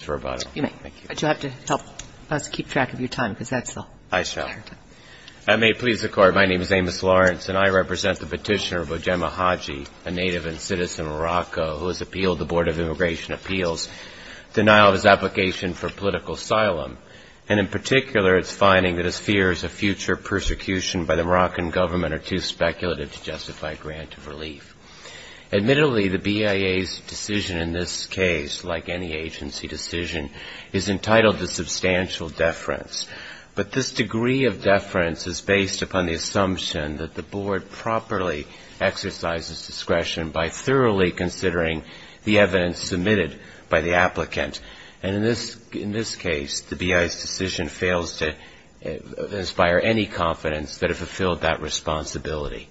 I represent the petitioner Bojema Haji, a native and citizen of Morocco, who has appealed the Board of Immigration Appeals' denial of his application for political asylum, and in particular its finding that his fears of future persecution by the Moroccan government are too speculative to justify a grant of relief. Admittedly, the BIA's decision in this case, like any agency decision, is entitled to substantial deference, but this degree of deference is based upon the assumption that the Board properly exercises discretion by thoroughly considering the evidence submitted by the applicant, and in this case the BIA's decision fails to inspire any confidence that it fulfilled that responsibility.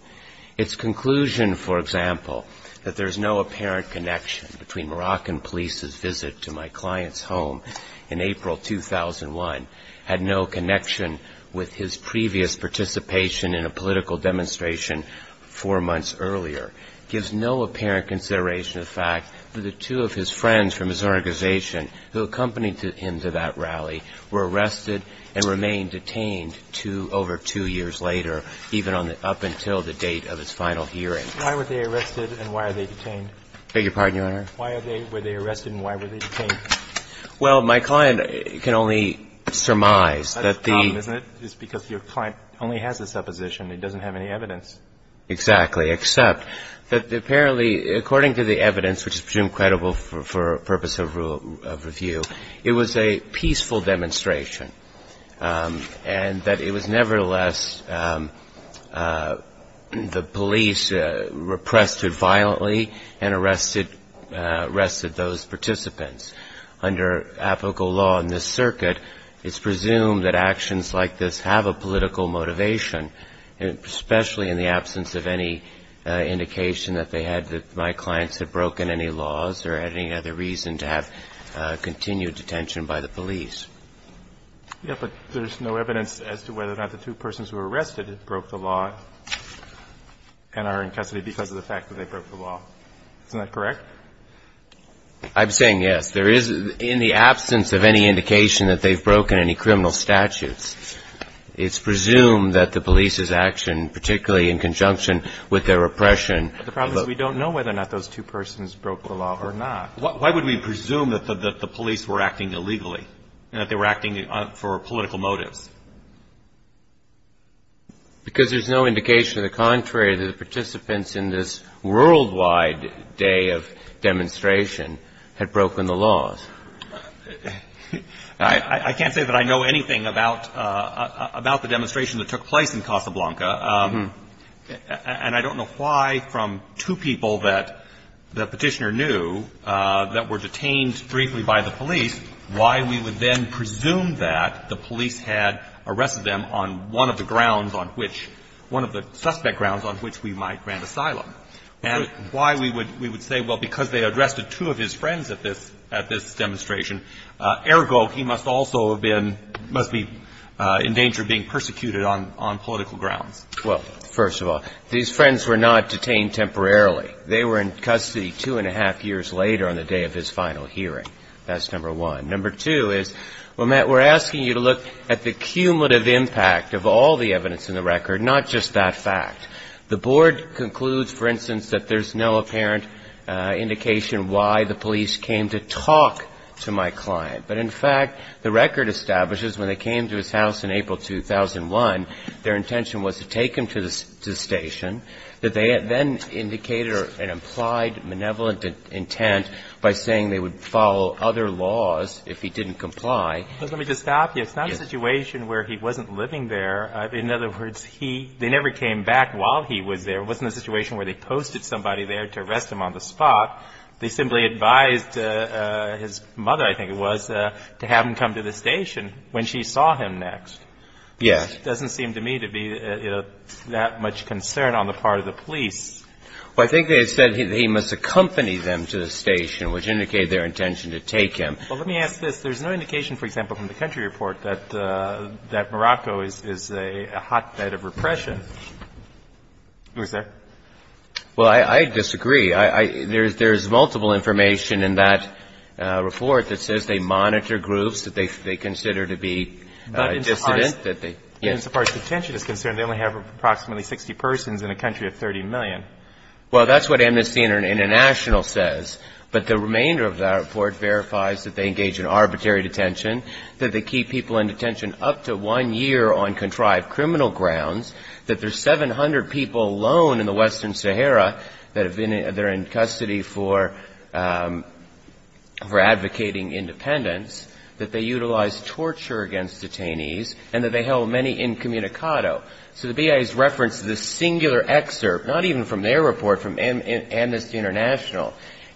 Its conclusion, for example, that there is no apparent connection between Moroccan police's visit to my client's home in April 2001, had no connection with his previous participation in a political demonstration four months earlier, gives no apparent consideration of the fact that the two of his friends from his organization who accompanied him to that rally were arrested and remained detained over two years later, even up until the date of his final hearing. Why were they arrested and why were they detained? I beg your pardon, Your Honor? Why were they arrested and why were they detained? Well, my client can only surmise that the That's the problem, isn't it? It's because your client only has a supposition. He doesn't have any evidence. Exactly, except that apparently, according to the evidence, which is presumed credible for purpose of review, it was a peaceful demonstration, and that it was, nevertheless, the police repressed it violently and arrested those participants. Under apical law in this circuit, it's presumed that actions like this have a political motivation, especially in the absence of any indication that they had, that my clients had broken any laws or had any other reason to have continued detention by the police. Yes, but there's no evidence as to whether or not the two persons who were arrested broke the law and are in custody because of the fact that they broke the law. Isn't that correct? I'm saying yes. There is, in the absence of any indication that they've broken any criminal statutes, it's presumed that the police's action, particularly in conjunction with their repression The problem is we don't know whether or not those two persons broke the law or not. Why would we presume that the police were acting illegally and that they were acting for political motives? Because there's no indication to the contrary that the participants in this worldwide day of demonstration had broken the laws. I can't say that I know anything about the demonstration that took place in Casablanca. And I don't know why, from two people that the Petitioner knew that were detained briefly by the police, why we would then presume that the police had arrested them on one of the grounds on which, one of the suspect grounds on which we might grant asylum. And why we would say, well, because they arrested two of his friends at this demonstration, ergo, he must also have been, must be in danger of being persecuted on political grounds. Well, first of all, these friends were not detained temporarily. They were in custody two and a half years later on the day of his final hearing. That's number one. Number two is, well, Matt, we're asking you to look at the cumulative impact of all the evidence in the record, not just that fact. The Board concludes, for instance, that there's no apparent indication why the police came to talk to my client. But in fact, the record establishes when they came to his house in April 2001, their intention was to take him to the station, that they then indicated an implied maneuverable intent by saying they would follow other laws if he didn't comply. But let me just stop you. It's not a situation where he wasn't living there. In other words, he, they never came back while he was there. It wasn't a situation where they posted somebody there to arrest him on the spot. They simply advised his mother, I think it was, to have him come to the station when she saw him next. Yes. Doesn't seem to me to be that much concern on the part of the police. Well, I think they said he must accompany them to the station, which indicated their intention to take him. Well, let me ask this. There's no indication, for example, from the country report that Morocco is a hotbed of repression. Who's there? Well, I disagree. There's multiple information in that report that says they monitor groups that they consider to be dissident. But as far as detention is concerned, they only have approximately 60 persons in a country of 30 million. Well, that's what Amnesty International says. But the remainder of that report verifies that they engage in arbitrary detention, that they keep people in detention up to one year on contrived criminal grounds, that there's 700 people alone in the Western Sahara that have been in their custody for advocating independence, that they utilize torture against detainees, and that they held many incommunicado. So the BIA's reference to this singular excerpt, not even from their report, from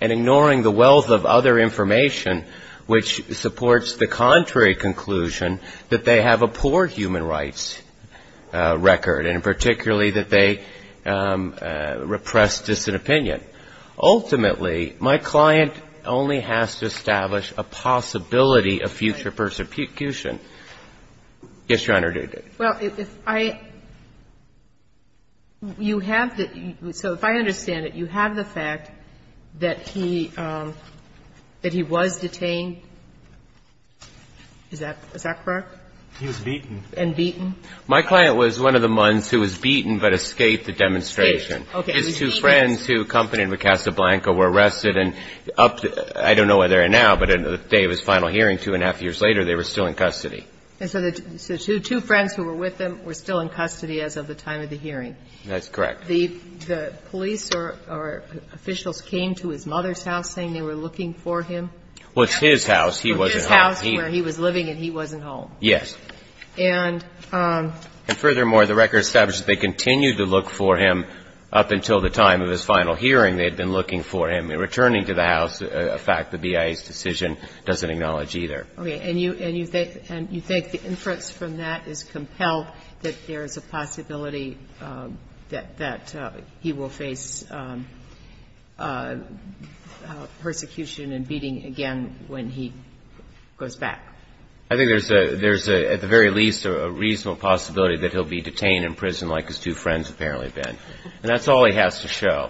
ignoring the wealth of other information, which supports the contrary conclusion that they have a poor human rights record, and particularly that they repress dissident opinion. Ultimately, my client only has to establish a possibility of future persecution. Yes, Your Honor. Well, if I – you have the – so if I understand it, you have the fact that he was detained. Is that correct? He was beaten. And beaten. My client was one of the mons who was beaten but escaped the demonstration. Okay. His two friends who accompanied with Casablanca were arrested and up to – I don't know where they are now, but at the day of his final hearing, two and a half years later, they were still in custody. And so the two friends who were with him were still in custody as of the time of the hearing? That's correct. The police or officials came to his mother's house saying they were looking for him? Well, it's his house. He wasn't home. His house where he was living and he wasn't home. Yes. And – And furthermore, the record establishes they continued to look for him up until the time of his final hearing. They had been looking for him. Returning to the house, a fact the BIA's decision doesn't acknowledge either. Okay. And you think the inference from that is compelled that there is a possibility that he will face persecution and beating again when he goes back? I think there's a – there's at the very least a reasonable possibility that he'll be detained in prison like his two friends apparently have been. And that's all he has to show.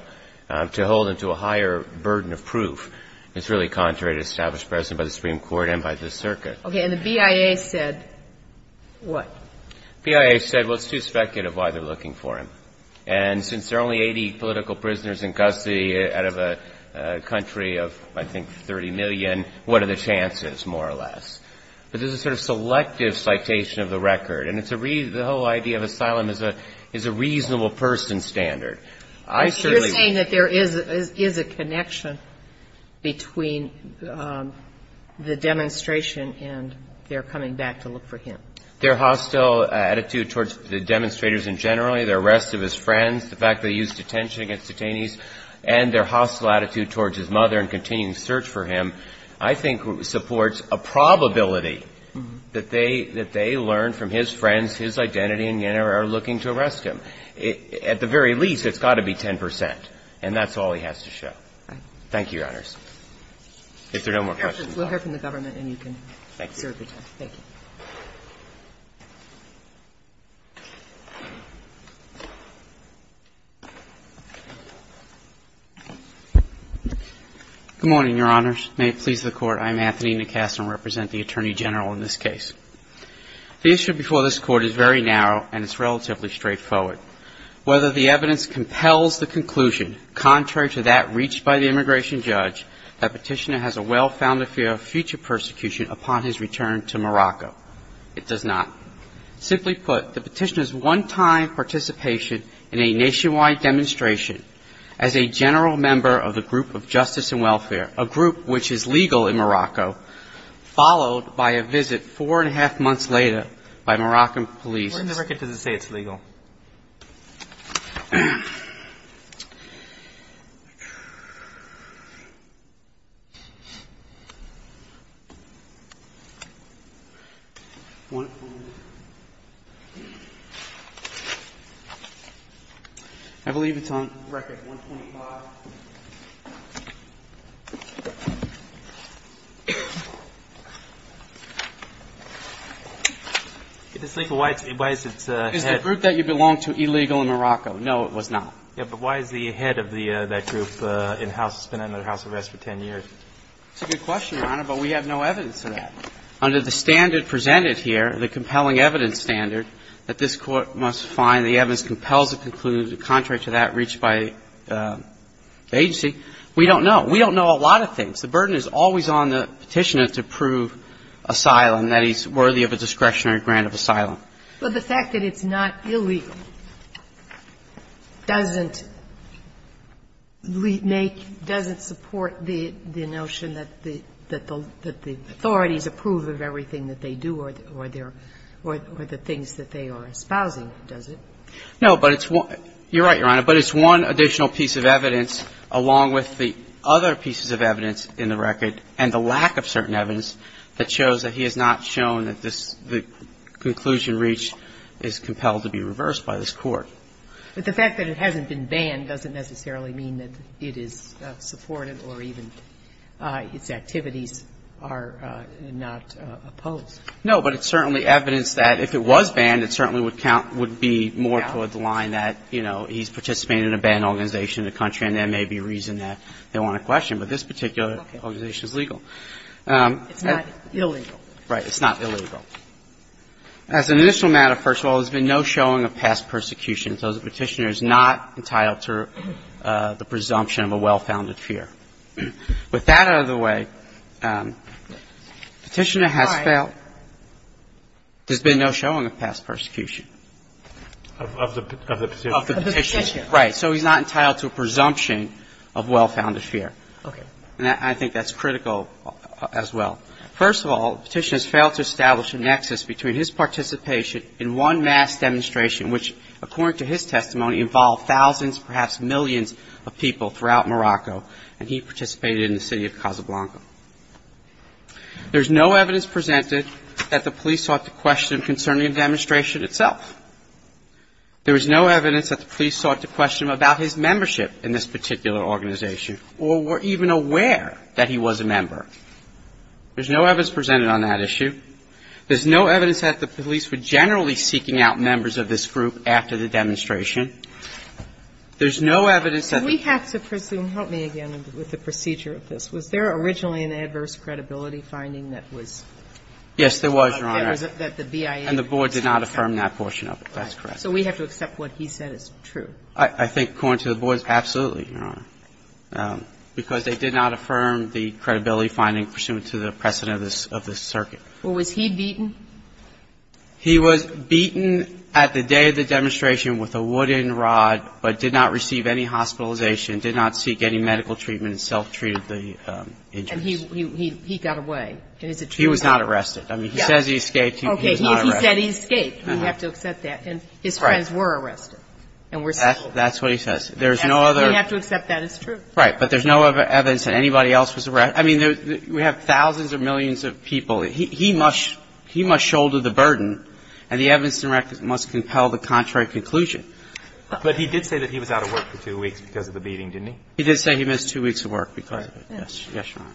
To hold him to a higher burden of proof is really contrary to the established precedent by the Supreme Court and by the circuit. Okay. And the BIA said what? BIA said, well, it's too speculative why they're looking for him. And since there are only 80 political prisoners in custody out of a country of, I think, 30 million, what are the chances more or less? But this is a sort of selective citation of the record. And it's a – the whole idea of asylum is a reasonable person standard. I certainly – Is a connection between the demonstration and their coming back to look for him? Their hostile attitude towards the demonstrators in general, their arrest of his friends, the fact that he used detention against detainees, and their hostile attitude towards his mother and continuing search for him, I think, supports a probability that they – that they learned from his friends his identity and yet are looking to arrest him. At the very least, it's got to be 10 percent. And that's all he has to show. Thank you, Your Honors. If there are no more questions, I'll stop. We'll hear from the government and you can serve your time. Thank you. Good morning, Your Honors. May it please the Court. I'm Anthony Nicasa and represent the Attorney General in this case. The issue before this Court is very narrow and it's relatively straightforward. Whether the evidence compels the conclusion, contrary to that reached by the immigration judge, that Petitioner has a well-founded fear of future persecution upon his return to Morocco, it does not. Simply put, the Petitioner's one-time participation in a nationwide demonstration as a general member of the group of justice and welfare, a group which is legal in Morocco, followed by a visit four and a half months later by Moroccan police. Where in the record does it say it's legal? I believe it's on record 125. It is legal. Why is its head? It's the group that you belong to illegal in Morocco. No, it was not. Yeah, but why is the head of that group in-house? It's been under house arrest for 10 years. It's a good question, Your Honor, but we have no evidence of that. Under the standard presented here, the compelling evidence standard, that this Court must find the evidence compels the conclusion, contrary to that reached by the agency, we don't know. We don't know a lot of things. The burden is always on the Petitioner to prove asylum, that he's worthy of a discretionary grant of asylum. But the fact that it's not illegal doesn't make, doesn't support the notion that the authorities approve of everything that they do or the things that they are espousing, does it? No, but it's one – you're right, Your Honor, but it's one additional piece of evidence, along with the other pieces of evidence in the record and the lack of certain evidence that shows that he has not shown that this – the conclusion reached is compelled to be reversed by this Court. But the fact that it hasn't been banned doesn't necessarily mean that it is supported or even its activities are not opposed. No, but it's certainly evidence that if it was banned, it certainly would count – would be more toward the line that, you know, he's participating in a banned organization in the country, and there may be a reason that they want to question. But this particular organization is legal. It's not illegal. Right. It's not illegal. As an initial matter, first of all, there's been no showing of past persecution, so the Petitioner is not entitled to the presumption of a well-founded fear. With that out of the way, Petitioner has failed. There's been no showing of past persecution. Of the Petitioner. Of the Petitioner. Right. So he's not entitled to a presumption of well-founded fear. Okay. And I think that's critical as well. First of all, the Petitioner has failed to establish a nexus between his participation in one mass demonstration which, according to his testimony, involved thousands, perhaps millions of people throughout Morocco, and he participated in the city of Casablanca. There's no evidence presented that the police sought to question concerning the demonstration itself. There was no evidence that the police sought to question about his membership in this particular organization or were even aware that he was a member. There's no evidence presented on that issue. There's no evidence that the police were generally seeking out members of this group after the demonstration. There's no evidence that the police were seeking out members of this group. We have to presume, help me again with the procedure of this, was there originally an adverse credibility finding that was? Yes, there was, Your Honor. And the board did not affirm that portion of it. That's correct. So we have to accept what he said is true. I think, according to the board, absolutely, Your Honor, because they did not affirm the credibility finding pursuant to the precedent of this circuit. Well, was he beaten? He was beaten at the day of the demonstration with a wooden rod but did not receive any hospitalization, did not seek any medical treatment, self-treated the injuries. And he got away. And is it true? He was not arrested. I mean, he says he escaped, he was not arrested. Okay. If he said he escaped, we have to accept that. And his friends were arrested and were saved. That's what he says. There's no other. We have to accept that as true. Right. But there's no evidence that anybody else was arrested. I mean, we have thousands of millions of people. He must shoulder the burden, and the evidence must compel the contrary conclusion. But he did say that he was out of work for two weeks because of the beating, didn't he? He did say he missed two weeks of work because of it, yes, Your Honor.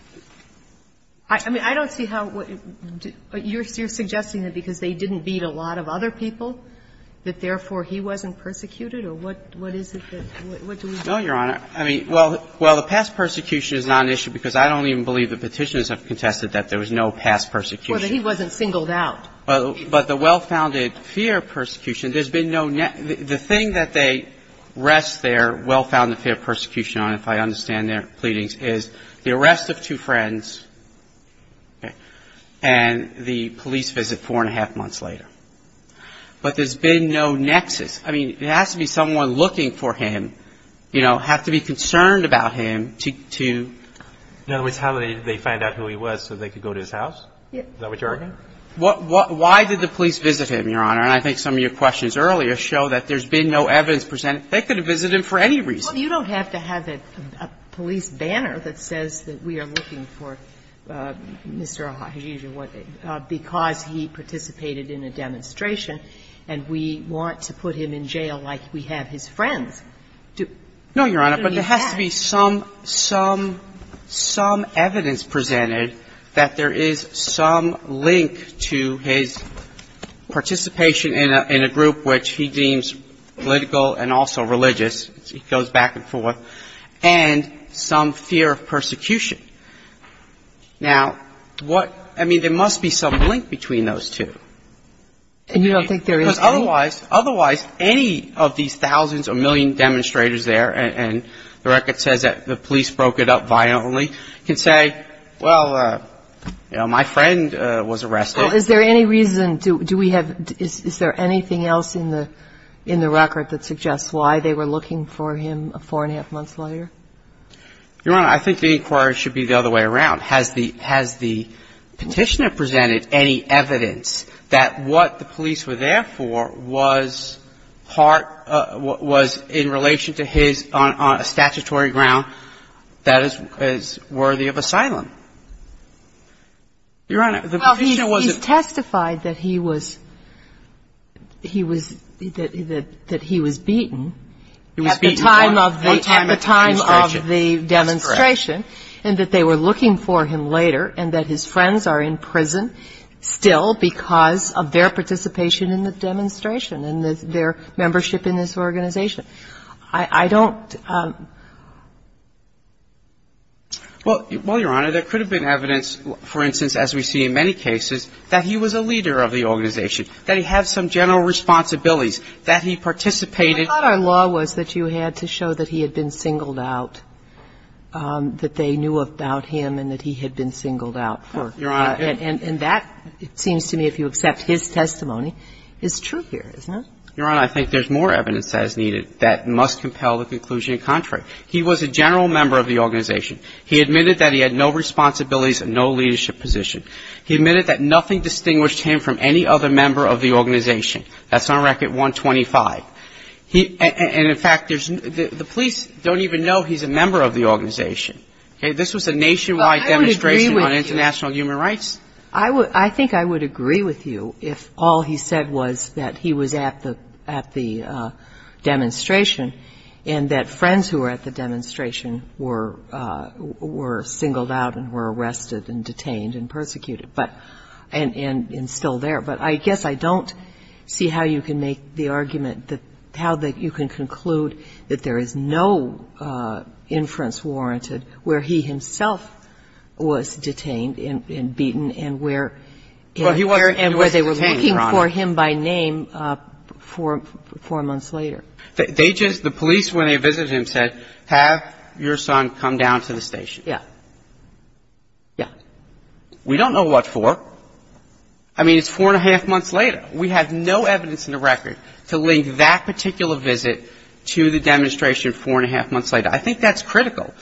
I mean, I don't see how you're suggesting that because they didn't beat a lot of other people that, therefore, he wasn't persecuted? Or what is it that we're doing? No, Your Honor. I mean, well, the past persecution is not an issue because I don't even believe the Petitioners have contested that there was no past persecution. Well, that he wasn't singled out. But the well-founded fear of persecution, there's been no net the thing that they rest their well-founded fear of persecution on, if I understand their pleadings, is the arrest of two friends and the police visit four and a half months later. But there's been no nexus. I mean, it has to be someone looking for him, you know, have to be concerned about him to do. In other words, how did they find out who he was so they could go to his house? Is that what you're arguing? Why did the police visit him, Your Honor? And I think some of your questions earlier show that there's been no evidence presenting they could have visited him for any reason. Well, you don't have to have a police banner that says that we are looking for Mr. O'Hajijo because he participated in a demonstration, and we want to put him in jail like we have his friends. No, Your Honor, but there has to be some, some, some evidence presented that there is some link to his participation in a group which he deems political and also religious. He goes back and forth. And some fear of persecution. Now, what, I mean, there must be some link between those two. And you don't think there is any? Because otherwise, otherwise any of these thousands or million demonstrators there, and the record says that the police broke it up violently, can say, well, you know, my friend was arrested. Is there any reason, do we have, is there anything else in the, in the record that suggests why they were looking for him four and a half months later? Your Honor, I think the inquiry should be the other way around. Has the, has the Petitioner presented any evidence that what the police were there for was part, was in relation to his, on a statutory ground that is worthy of asylum? Your Honor, the Petitioner was a person. And the fact that he was, that he was beaten at the time of the demonstration and that they were looking for him later and that his friends are in prison still because of their participation in the demonstration and their membership in this organization, I don't. Well, Your Honor, there could have been evidence, for instance, as we see in many cases, that he was a leader of the organization, that he had some general responsibilities, that he participated. But I thought our law was that you had to show that he had been singled out, that they knew about him and that he had been singled out for. And that, it seems to me, if you accept his testimony, is true here, isn't it? Your Honor, I think there's more evidence as needed that must compel the conclusion in contrary. He was a general member of the organization. He admitted that he had no responsibilities and no leadership position. He admitted that nothing distinguished him from any other member of the organization. That's on Record 125. And, in fact, there's, the police don't even know he's a member of the organization. Okay? This was a nationwide demonstration on international human rights. I would, I think I would agree with you if all he said was that he was at the, at the demonstration and that friends who were at the demonstration were, were singled out and were arrested and detained and persecuted. But, and, and still there. But I guess I don't see how you can make the argument that, how that you can conclude that there is no inference warranted where he himself was detained and, and beaten and where, and where they were looking for him by name four, four months later. They just, the police, when they visited him, said, have your son come down to the station. Yeah. We don't know what for. I mean, it's four and a half months later. We have no evidence in the record to link that particular visit to the demonstration four and a half months later. I think that's critical,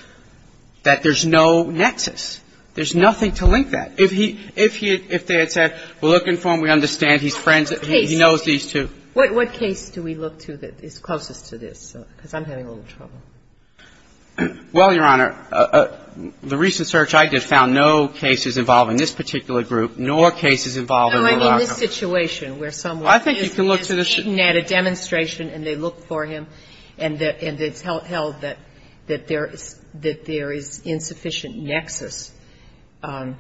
that there's no nexus. There's nothing to link that. If he, if he, if they had said, we're looking for him, we understand, he's friends, he knows these two. What case do we look to that is closest to this? Because I'm having a little trouble. Well, Your Honor, the recent search I did found no cases involving this particular group, nor cases involving Verlaco. No, I mean this situation where someone is beaten at a demonstration and they look for him and it's held that, that there is, that there is insufficient nexus to,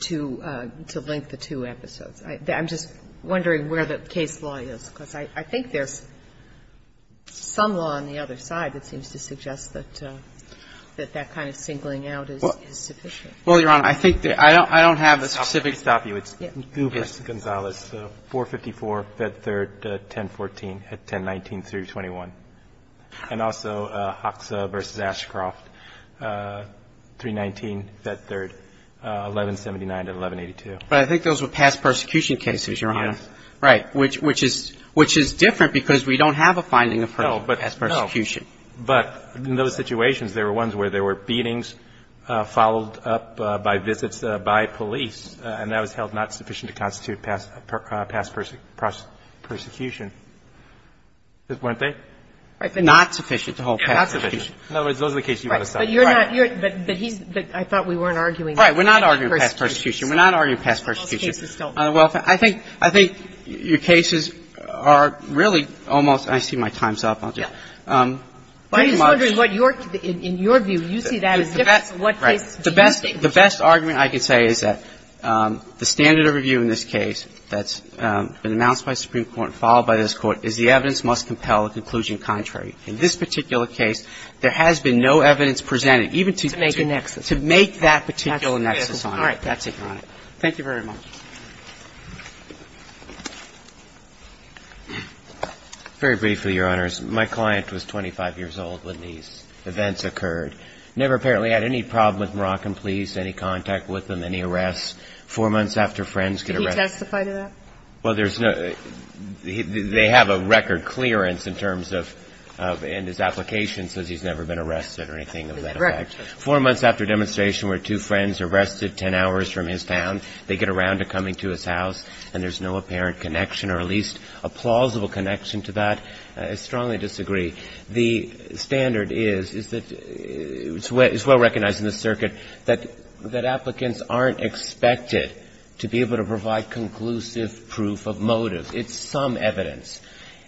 to link the two episodes. I'm just wondering where the case law is, because I think there's some law on the other side that seems to suggest that, that that kind of singling out is, is sufficient. Well, Your Honor, I think that I don't, I don't have a specific. I'll stop you. It's Guber v. Gonzalez, 454, Fed Third, 1014 at 1019 through 21. And also Hoxha v. Ashcroft, 319, Fed Third, 1179 to 1182. But I think those were past persecution cases, Your Honor. Yes. Right, which, which is, which is different because we don't have a finding of past persecution. No, but in those situations, there were ones where there were beatings followed up by visits by police, and that was held not sufficient to constitute past, past persecution. Weren't they? Not sufficient to hold past persecution. In other words, those are the cases you want to cite. Right. But you're not, you're, but, but he's, I thought we weren't arguing past persecution. Right. We're not arguing past persecution. Well, I think, I think your cases are really almost, and I see my time's up, I'll stop. I'm just wondering what your, in your view, you see that as different from what case do you think? The best, the best argument I can say is that the standard of review in this case that's been announced by the Supreme Court and followed by this Court is the evidence must compel a conclusion contrary. In this particular case, there has been no evidence presented even to, to make that particular nexus on it. All right. That's it, Your Honor. Thank you very much. Very briefly, Your Honors, my client was 25 years old when these events occurred. Never apparently had any problem with Moroccan police, any contact with them, any arrests. Four months after friends get arrested. Can you testify to that? Well, there's no, they have a record clearance in terms of, and his application says he's never been arrested or anything of that effect. Four months after demonstration where two friends are arrested 10 hours from his town, they get around to coming to his house, and there's no apparent connection or at least a plausible connection to that. I strongly disagree. The standard is, is that it's well recognized in the circuit that, that applicants aren't expected to be able to provide conclusive proof of motive. It's some evidence.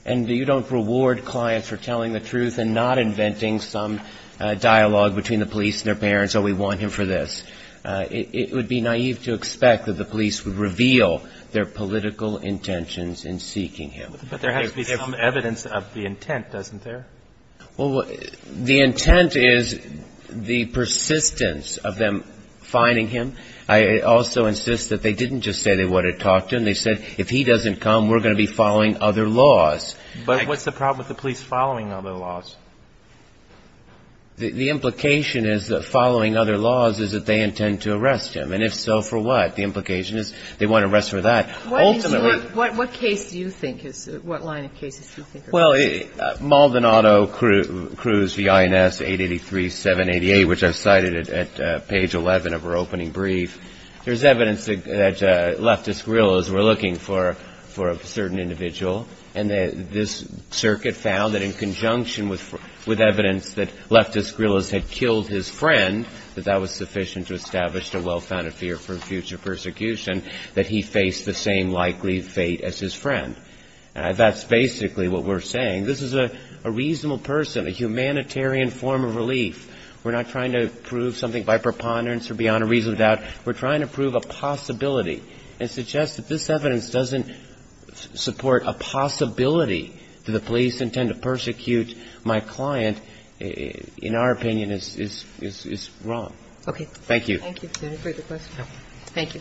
And you don't reward clients for telling the truth and not inventing some dialogue between the police and their parents, oh, we want him for this. It would be naive to expect that the police would reveal their political intentions in seeking him. But there has to be some evidence of the intent, doesn't there? Well, the intent is the persistence of them finding him. I also insist that they didn't just say they wanted to talk to him. They said, if he doesn't come, we're going to be following other laws. But what's the problem with the police following other laws? The implication is that following other laws is that they intend to arrest him. And if so, for what? The implication is they want to arrest for that. Ultimately... What case do you think is, what line of cases do you think are... Well, Maldonado Cruz, V.I.N.S. 883-788, which I've cited at page 11 of her opening brief. There's evidence that leftist guerrillas were looking for a certain individual. And this circuit found that in conjunction with evidence that leftist guerrillas had killed his friend, that that was sufficient to establish a well-founded fear for future persecution, that he faced the same likely fate as his friend. That's basically what we're saying. This is a reasonable person, a humanitarian form of relief. We're not trying to prove something by preponderance or beyond a reasonable doubt. We're trying to prove a possibility and suggest that this evidence doesn't support a possibility that the police intend to persecute my client, in our opinion, is wrong. Okay. Thank you. Thank you. Do you have a further question? No. Thank you.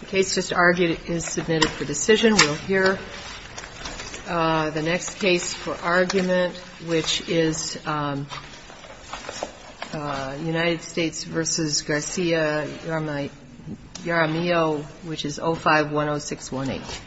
The case just argued is submitted for decision. We'll hear the next case for argument, which is United States v. Garcia-Yaramillo, which is 05-10618.